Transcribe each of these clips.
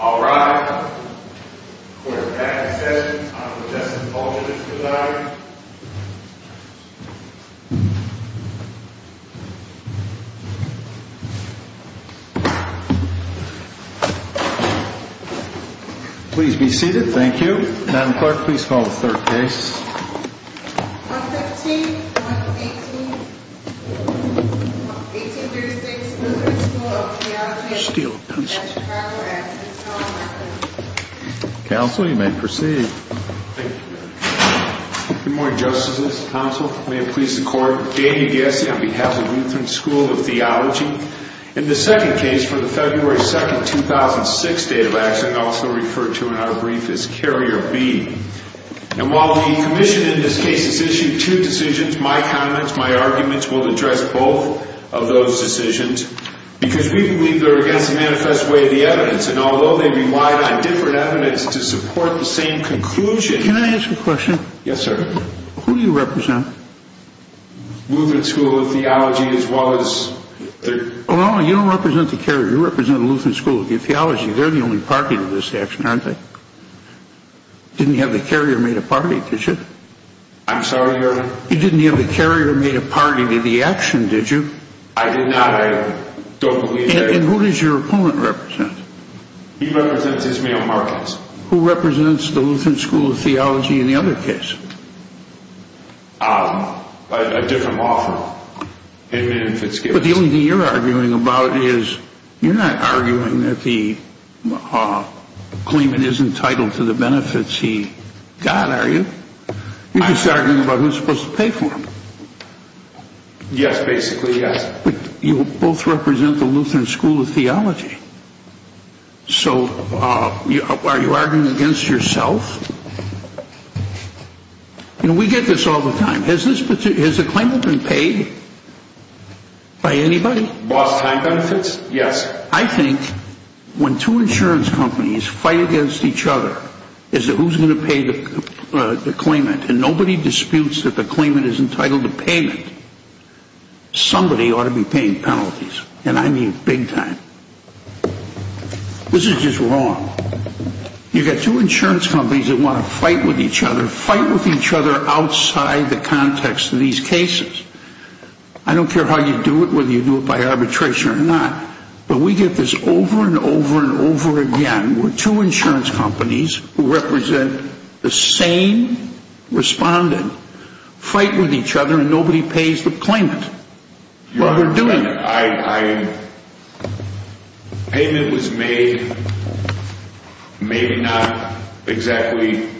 Alright, court is back in session. I'm going to address all the judges for the night. Please be seated, thank you. Madam Clerk, please call the third case. 115, 118, 1836 Lutheran School of Theology, Steele, Pennsylvania. Judge Carver, absent. Counsel, you may proceed. Thank you, Your Honor. Good morning, Justices. Counsel, may it please the Court, Damien Gassie on behalf of Lutheran School of Theology. In the second case, for the February 2nd, 2006 date of accident, also referred to in our brief as Carrier B. And while the Commission in this case has issued two decisions, my comments, my arguments will address both of those decisions, because we believe they're against the manifest way of the evidence. And although they relied on different evidence to support the same conclusion... Can I ask a question? Yes, sir. Who do you represent? Lutheran School of Theology, as well as... Well, you don't represent the Carrier, you represent Lutheran School of Theology. They're the only party to this action, aren't they? You didn't have the Carrier made a party, did you? I'm sorry, Your Honor? You didn't have the Carrier made a party to the action, did you? I did not. I don't believe that. And who does your opponent represent? He represents Ismael Marquez. Who represents the Lutheran School of Theology in the other case? A different law firm. But the only thing you're arguing about is... You're not arguing that the claimant is entitled to the benefits he got, are you? You're just arguing about who's supposed to pay for them. Yes, basically, yes. But you both represent the Lutheran School of Theology. So, are you arguing against yourself? You know, we get this all the time. Has a claimant been paid by anybody? Lost time benefits? Yes. I think when two insurance companies fight against each other, as to who's going to pay the claimant, and nobody disputes that the claimant is entitled to payment, somebody ought to be paying penalties. And I mean big time. This is just wrong. You've got two insurance companies that want to fight with each other, fight with each other outside the context of these cases. I don't care how you do it, whether you do it by arbitration or not. But we get this over and over and over again, where two insurance companies who represent the same respondent, fight with each other and nobody pays the claimant. While they're doing it. Payment was made, maybe not exactly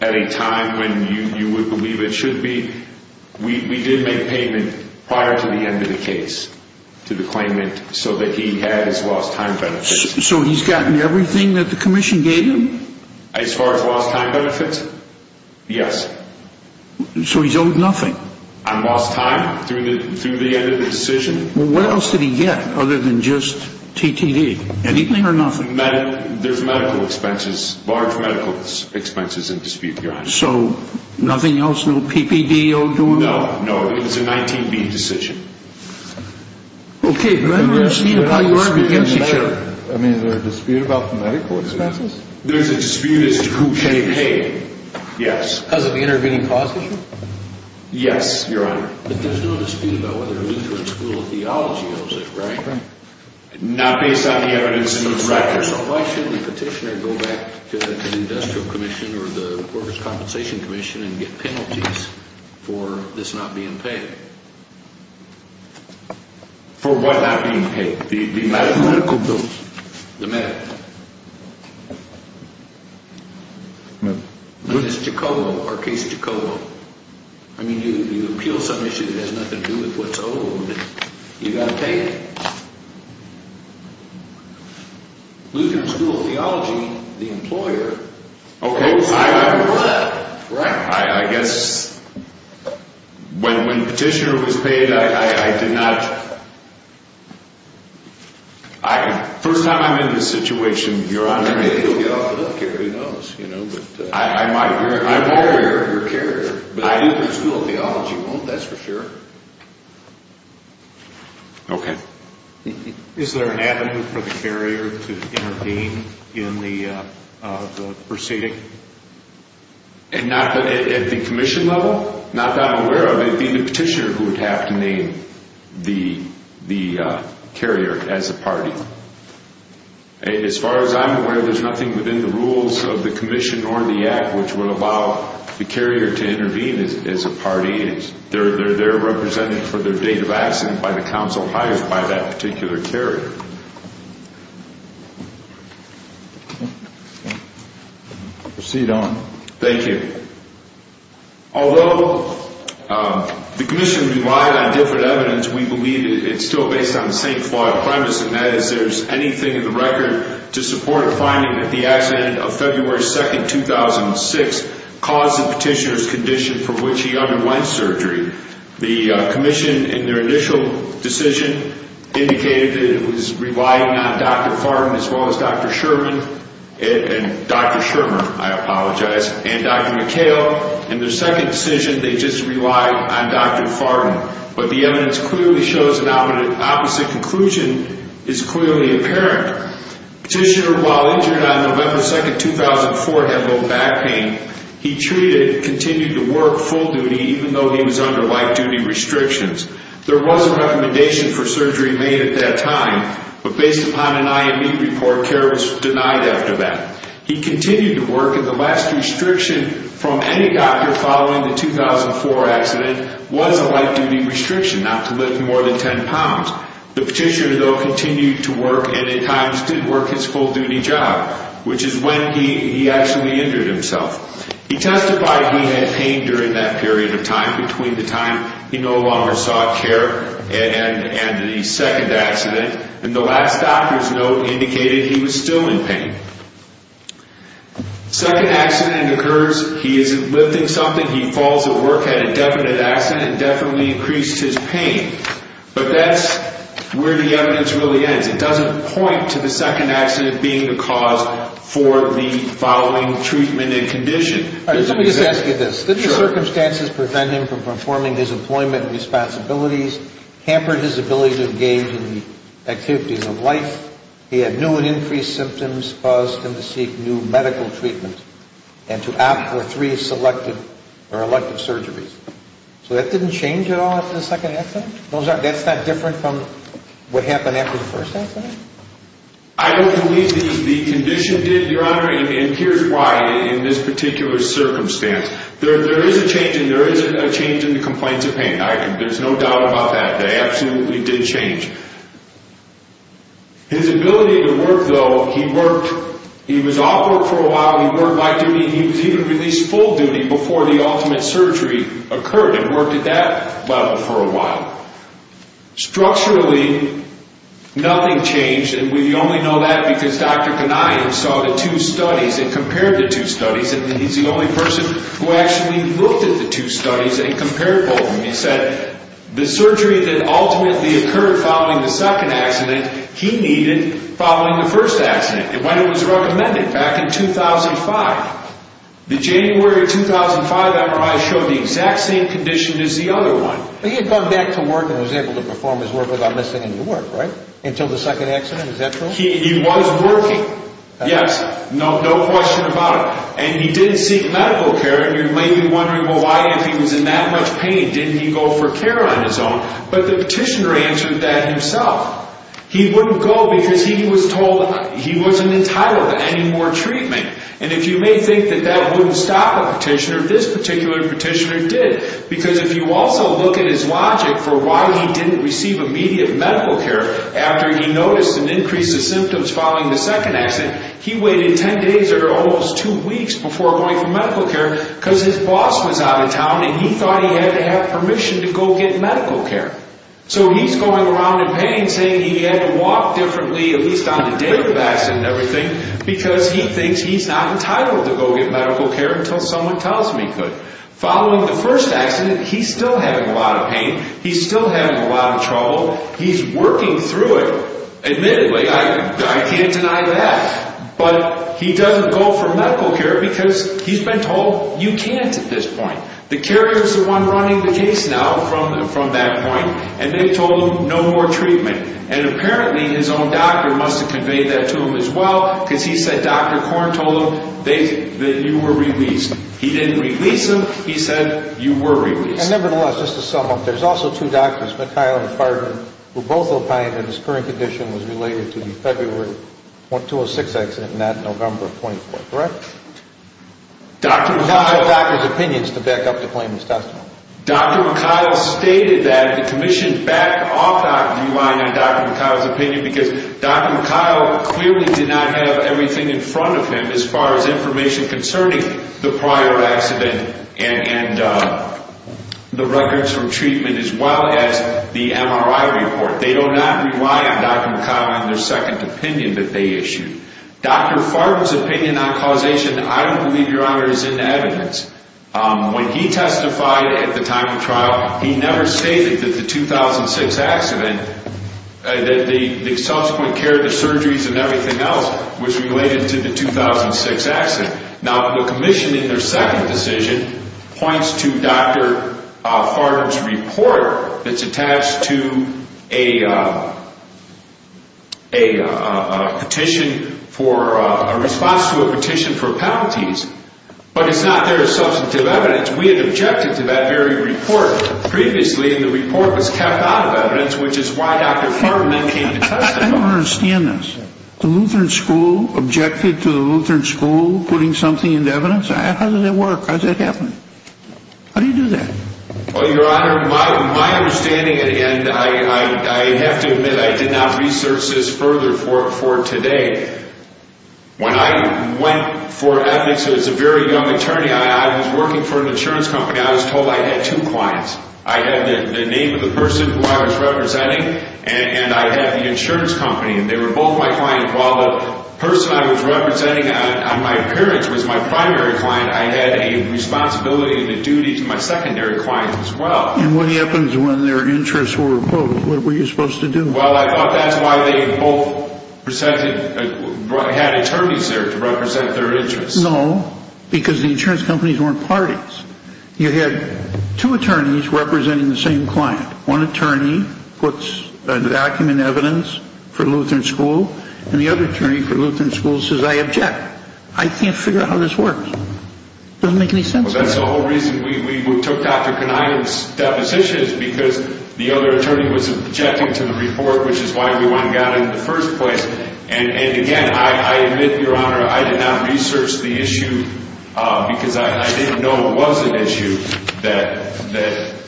at a time when you would believe it should be. We did make payment prior to the end of the case to the claimant, so that he had his lost time benefits. So he's gotten everything that the commission gave him? As far as lost time benefits, yes. So he's owed nothing? On lost time, through the end of the decision. Well what else did he get, other than just TTD? There's medical expenses, large medical expenses in dispute, Your Honor. So nothing else, no PPD owed to him? No, no, it was a 19-B decision. Okay, but there's a dispute about the medical expenses? There's a dispute as to who should pay, yes. Because of the intervening clause issue? Yes, Your Honor. But there's no dispute about whether Lutheran School of Theology owes it, right? Right. Not based on the evidence in the record. Your Honor, so why shouldn't the petitioner go back to the Industrial Commission or the Workers' Compensation Commission and get penalties for this not being paid? For what not being paid? The medical bill? The medical bill. I mean, it's Jacobo, our case, Jacobo. I mean, you appeal some issue that has nothing to do with what's owed, you've got to pay it. But if Lutheran School of Theology, the employer, owes something for that, right? I guess when petitioner was paid, I did not... First time I'm in this situation, Your Honor... Maybe he'll get off the hook here, who knows, you know, but... I'm aware of your carrier. But Lutheran School of Theology won't, that's for sure. Okay. Is there an avenue for the carrier to intervene in the proceeding? At the commission level? Not that I'm aware of. It'd be the petitioner who would have to name the carrier as a party. As far as I'm aware, there's nothing within the rules of the commission or the act which would allow the carrier to intervene as a party. They're represented for their date of accident by the counsel hired by that particular carrier. Proceed on. Thank you. Although the commission relied on different evidence, we believe it's still based on the same flawed premise, and that is there's anything in the record to support finding that the accident of February 2nd, 2006 caused the petitioner's condition from which he underwent surgery. The commission, in their initial decision, indicated that it was relying on Dr. Fartin as well as Dr. Sherman, and Dr. Shermer, I apologize, and Dr. McHale. In their second decision, they just relied on Dr. Fartin. But the evidence clearly shows an opposite conclusion is clearly apparent. Petitioner, while injured on November 2nd, 2004, had low back pain. He treated, continued to work full duty even though he was under light duty restrictions. There was a recommendation for surgery made at that time, but based upon an IME report, care was denied after that. He continued to work, and the last restriction from any doctor following the 2004 accident was a light duty restriction, not to lift more than 10 pounds. The petitioner, though, continued to work and at times didn't work his full duty job, which is when he actually injured himself. He testified he had pain during that period of time, between the time he no longer sought care and the second accident, and the last doctor's note indicated he was still in pain. Second accident occurs, he isn't lifting something, he falls at work, had a definite accident, definitely increased his pain. But that's where the evidence really ends. It doesn't point to the second accident being the cause for the following treatment and condition. Let me just ask you this. Did the circumstances prevent him from performing his employment responsibilities, hampered his ability to engage in the activities of life, he had new and increased symptoms caused him to seek new medical treatment and to opt for three selective or elective surgeries? So that didn't change at all after the second accident? That's not different from what happened after the first accident? I don't believe the condition did, Your Honor, and here's why in this particular circumstance. There is a change in the complaints of pain. There's no doubt about that. They absolutely did change. His ability to work, though, he worked, he was off work for a while, he worked by duty and he was even released full duty before the ultimate surgery occurred and worked at that level for a while. Structurally, nothing changed, and we only know that because Dr. Kanian saw the two studies and compared the two studies and he's the only person who actually looked at the two studies and compared both of them. He said the surgery that ultimately occurred following the second accident, he needed following the first accident. When it was recommended back in 2005, the January 2005 MRI showed the exact same condition as the other one. He had gone back to work and was able to perform his work without missing any work, right? Until the second accident, is that true? He was working, yes. No question about it. And he didn't seek medical care, and you may be wondering, well, why, if he was in that much pain, didn't he go for care on his own? But the petitioner answered that himself. He wouldn't go because he was told he wasn't entitled to any more treatment. And if you may think that that wouldn't stop a petitioner, this particular petitioner did. Because if you also look at his logic for why he didn't receive immediate medical care after he noticed an increase in symptoms following the second accident, he waited 10 days or almost 2 weeks before going for medical care because his boss was out of town and he thought he had to have permission to go get medical care. So he's going around in pain saying he had to walk differently, at least on the day of the accident and everything, because he thinks he's not entitled to go get medical care until someone tells him he could. Following the first accident, he's still having a lot of pain. He's still having a lot of trouble. He's working through it. Admittedly, I can't deny that. But he doesn't go for medical care because he's been told, you can't at this point. The carrier is the one running the case now from that point, and they told him no more treatment. And apparently his own doctor must have conveyed that to him as well because he said Dr. Korn told him that you were released. He didn't release him. He said you were released. Nevertheless, just to sum up, there's also two doctors, McHile and Fardin, who both opined that his current condition was related to the February 206 accident and not November 24, correct? Dr. McHile's opinions, to back up the claimant's testimony. Dr. McHile stated that the commission backed off that relying on Dr. McHile's opinion because Dr. McHile clearly did not have everything in front of him as far as information concerning the prior accident and the records from treatment as well as the MRI report. They do not rely on Dr. McHile in their second opinion that they issued. Dr. Fardin's opinion on causation, I don't believe, Your Honor, is in evidence. When he testified at the time of trial, he never stated that the 2006 accident, that the subsequent care, the surgeries and everything else was related to the 2006 accident. Now, the commission in their second decision points to Dr. Fardin's report that's attached to a petition for a response to a petition for penalties, but it's not there as substantive evidence. We had objected to that very report previously, and the report was kept out of evidence, which is why Dr. Fardin then came to testify. I don't understand this. The Lutheran School objected to the Lutheran School putting something into evidence? How does that work? How does that happen? How do you do that? Well, Your Honor, my understanding, and I have to admit I did not research this further for today. When I went for ethics as a very young attorney, I was working for an insurance company. I was told I had two clients. I had the name of the person who I was representing, and I had the insurance company, and they were both my clients. While the person I was representing on my appearance was my primary client, I had a responsibility and a duty to my secondary client as well. And what happens when their interests were opposed? What were you supposed to do? Well, I thought that's why they both had attorneys there to represent their interests. No, because the insurance companies weren't parties. You had two attorneys representing the same client. One attorney puts a document in evidence for Lutheran School, and the other attorney for Lutheran School says, I can't figure out how this works. It doesn't make any sense to me. Well, that's the whole reason we took Dr. Kaniyia's depositions, because the other attorney was objecting to the report, which is why we went and got it in the first place. And again, I admit, Your Honor, I did not research the issue because I didn't know it was an issue, that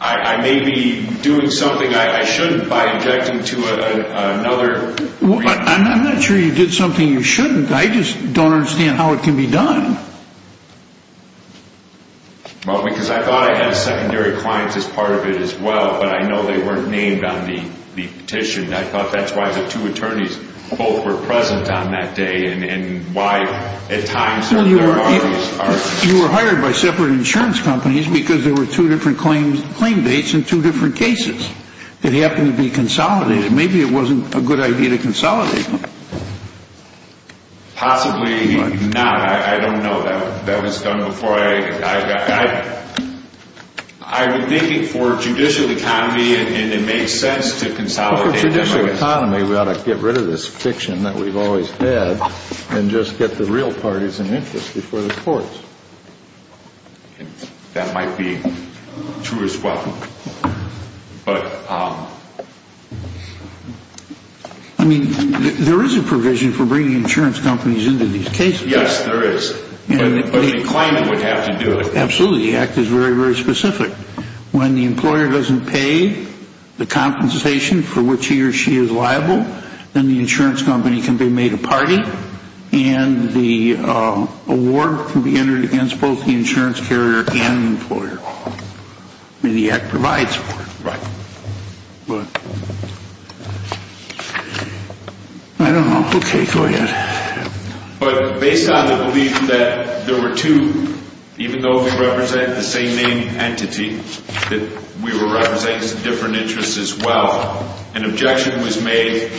I may be doing something I shouldn't by objecting to another report. I'm not sure you did something you shouldn't. I just don't understand how it can be done. Well, because I thought I had a secondary client as part of it as well, but I know they weren't named on the petition. I thought that's why the two attorneys both were present on that day, and why at times their parties are... You were hired by separate insurance companies because there were two different claim dates and two different cases that happened to be consolidated. Maybe it wasn't a good idea to consolidate them. Possibly not. I don't know. That was done before I... I've been thinking for judicial economy, and it makes sense to consolidate them. For judicial economy, we ought to get rid of this fiction that we've always had and just get the real parties in interest before the courts. That might be true as well. But... I mean, there is a provision for bringing insurance companies into these cases. Yes, there is. But the claimant would have to do it. Absolutely. The Act is very, very specific. When the employer doesn't pay the compensation for which he or she is liable, then the insurance company can be made a party, and the award can be entered against both the insurance carrier and the employer. I mean, the Act provides for it. Right. But... I don't know. Okay, go ahead. But based on the belief that there were two, even though we represent the same main entity, that we were representing some different interests as well, an objection was made.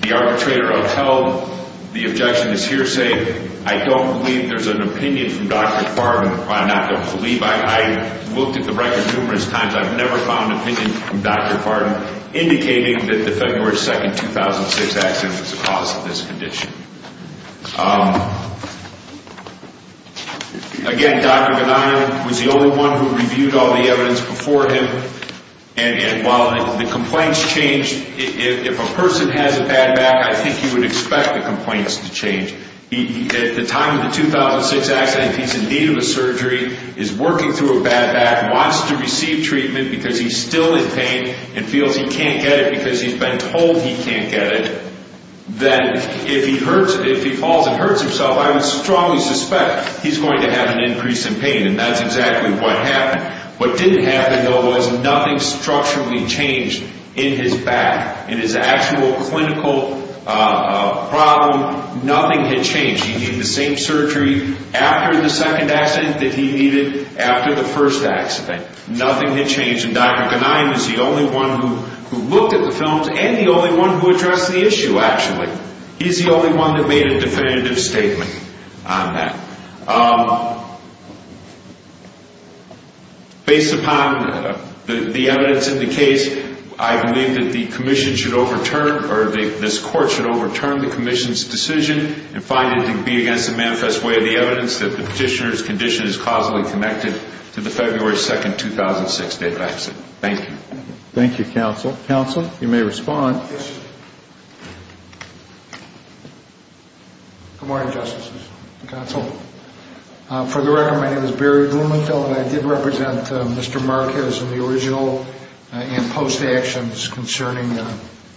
The arbitrator outheld the objection as hearsay. I don't believe there's an opinion from Dr. Farben. I'm not going to believe. I've looked at the record numerous times. I've never found an opinion from Dr. Farben indicating that the February 2, 2006 accident was the cause of this condition. Again, Dr. Benign was the only one who reviewed all the evidence before him, and while the complaints changed, if a person hasn't had it back, I think you would expect the complaints to change. At the time of the 2006 accident, if he's in need of a surgery, is working through a bad back, wants to receive treatment because he's still in pain and feels he can't get it because he's been told he can't get it, then if he hurts, if he falls and hurts himself, I would strongly suspect he's going to have an increase in pain, and that's exactly what happened. What didn't happen, though, was nothing structurally changed in his back. In his actual clinical problem, nothing had changed. He needed the same surgery after the second accident that he needed after the first accident. Nothing had changed, and Dr. Benign is the only one who looked at the films and the only one who addressed the issue, actually. He's the only one that made a definitive statement on that. Based upon the evidence in the case, I believe that the commission should overturn, or this court should overturn the commission's decision and find it to be against the manifest way of the evidence that the petitioner's condition is causally connected to the February 2, 2006 death accident. Thank you. Thank you, counsel. Counsel, you may respond. Good morning, Justices and counsel. For the record, my name is Barry Blumenthal, and I did represent Mr. Marquez in the original and post-actions concerning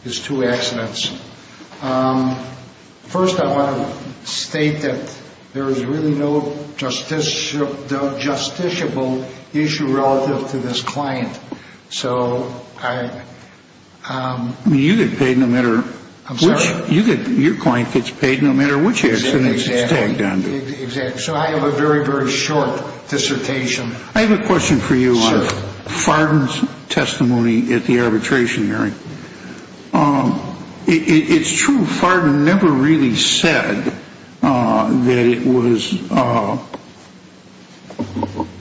his two accidents. First, I want to state that there is really no justiciable issue relative to this client. So I... You get paid no matter which... I'm sorry? Your client gets paid no matter which accident it's tagged on to. Exactly. So I have a very, very short dissertation. I have a question for you on Fardin's testimony at the arbitration hearing. It's true Fardin never really said that it was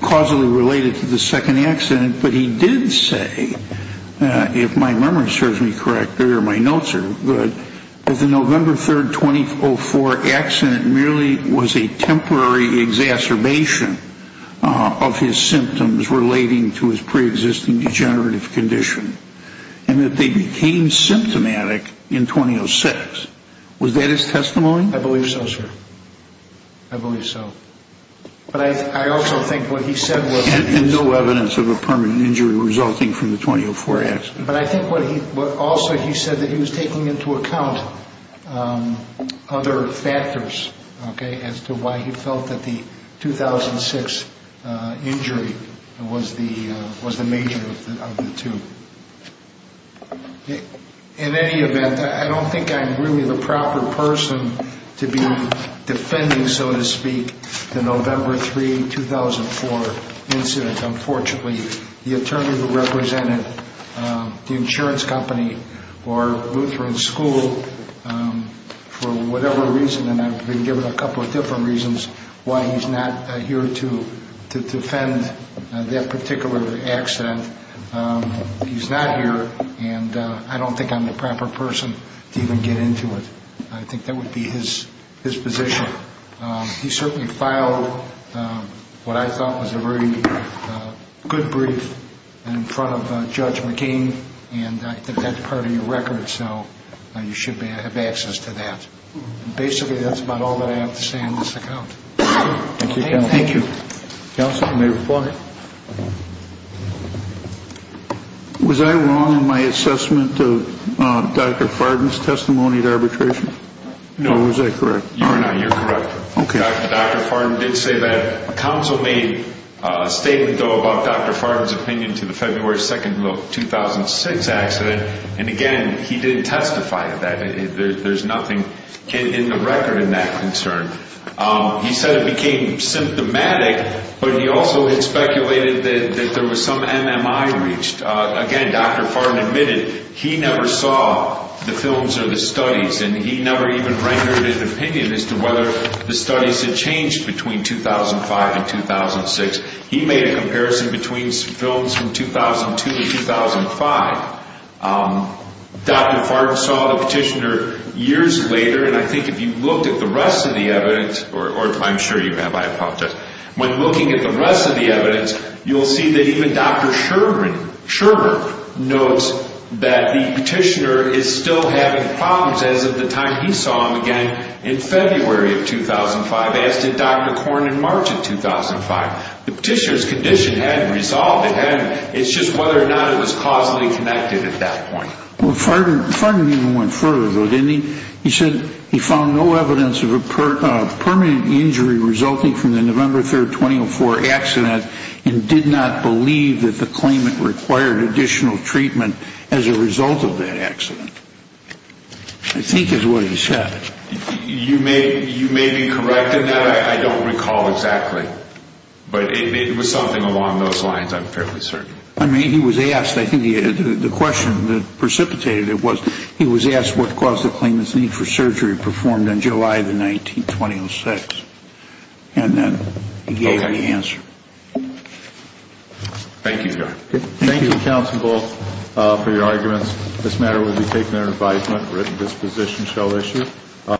causally related to the second accident, but he did say, if my memory serves me correctly or my notes are good, that the November 3, 2004 accident merely was a temporary exacerbation of his symptoms relating to his pre-existing degenerative condition and that they became symptomatic in 2006. Was that his testimony? I believe so, sir. I believe so. But I also think what he said was... And no evidence of a permanent injury resulting from the 2004 accident. But I think what he... Also, he said that he was taking into account other factors, okay, as to why he felt that the 2006 injury was the major of the two. In any event, I don't think I'm really the proper person to be defending, so to speak, the November 3, 2004 incident. Unfortunately, the attorney who represented the insurance company or Lutheran School, for whatever reason, and I've been given a couple of different reasons why he's not here to defend that particular accident, he's not here, and I don't think I'm the proper person to even get into it. I think that would be his position. He certainly filed what I thought was a very good brief in front of Judge McCain, and I think that's part of your record, so you should have access to that. Basically, that's about all that I have to say on this account. Thank you, counsel. Thank you. Counsel, you may reply. Was I wrong in my assessment of Dr. Farden's testimony at arbitration? No. Or was I correct? No, you're correct. Okay. Dr. Farden did say that counsel made a statement, though, about Dr. Farden's opinion to the February 2, 2006 accident, and again, he didn't testify to that. There's nothing in the record in that concern. He said it became symptomatic, but he also had speculated that there was some MMI reached. Again, Dr. Farden admitted he never saw the films or the studies, and he never even rendered an opinion as to whether the studies had changed between 2005 and 2006. He made a comparison between films from 2002 to 2005. Dr. Farden saw the petitioner years later, and I think if you looked at the rest of the evidence, or if I'm sure you have, I apologize. When looking at the rest of the evidence, you'll see that even Dr. Scherber notes that the petitioner is still having problems as of the time he saw him again in February of 2005, as did Dr. Corn in March of 2005. The petitioner's condition hadn't resolved. It's just whether or not it was causally connected at that point. Well, Farden even went further, though, didn't he? He said he found no evidence of a permanent injury resulting from the November 3, 2004 accident and did not believe that the claimant required additional treatment as a result of that accident. I think is what he said. You may be correct in that. I don't recall exactly, but it was something along those lines, I'm fairly certain. I mean, he was asked, I think the question that precipitated it was, he was asked what caused the claimant's need for surgery performed on July the 19th, 2006, and then he gave the answer. Thank you, John. Thank you, counsel, both, for your arguments. This matter will be taken under advisement. Written disposition shall issue.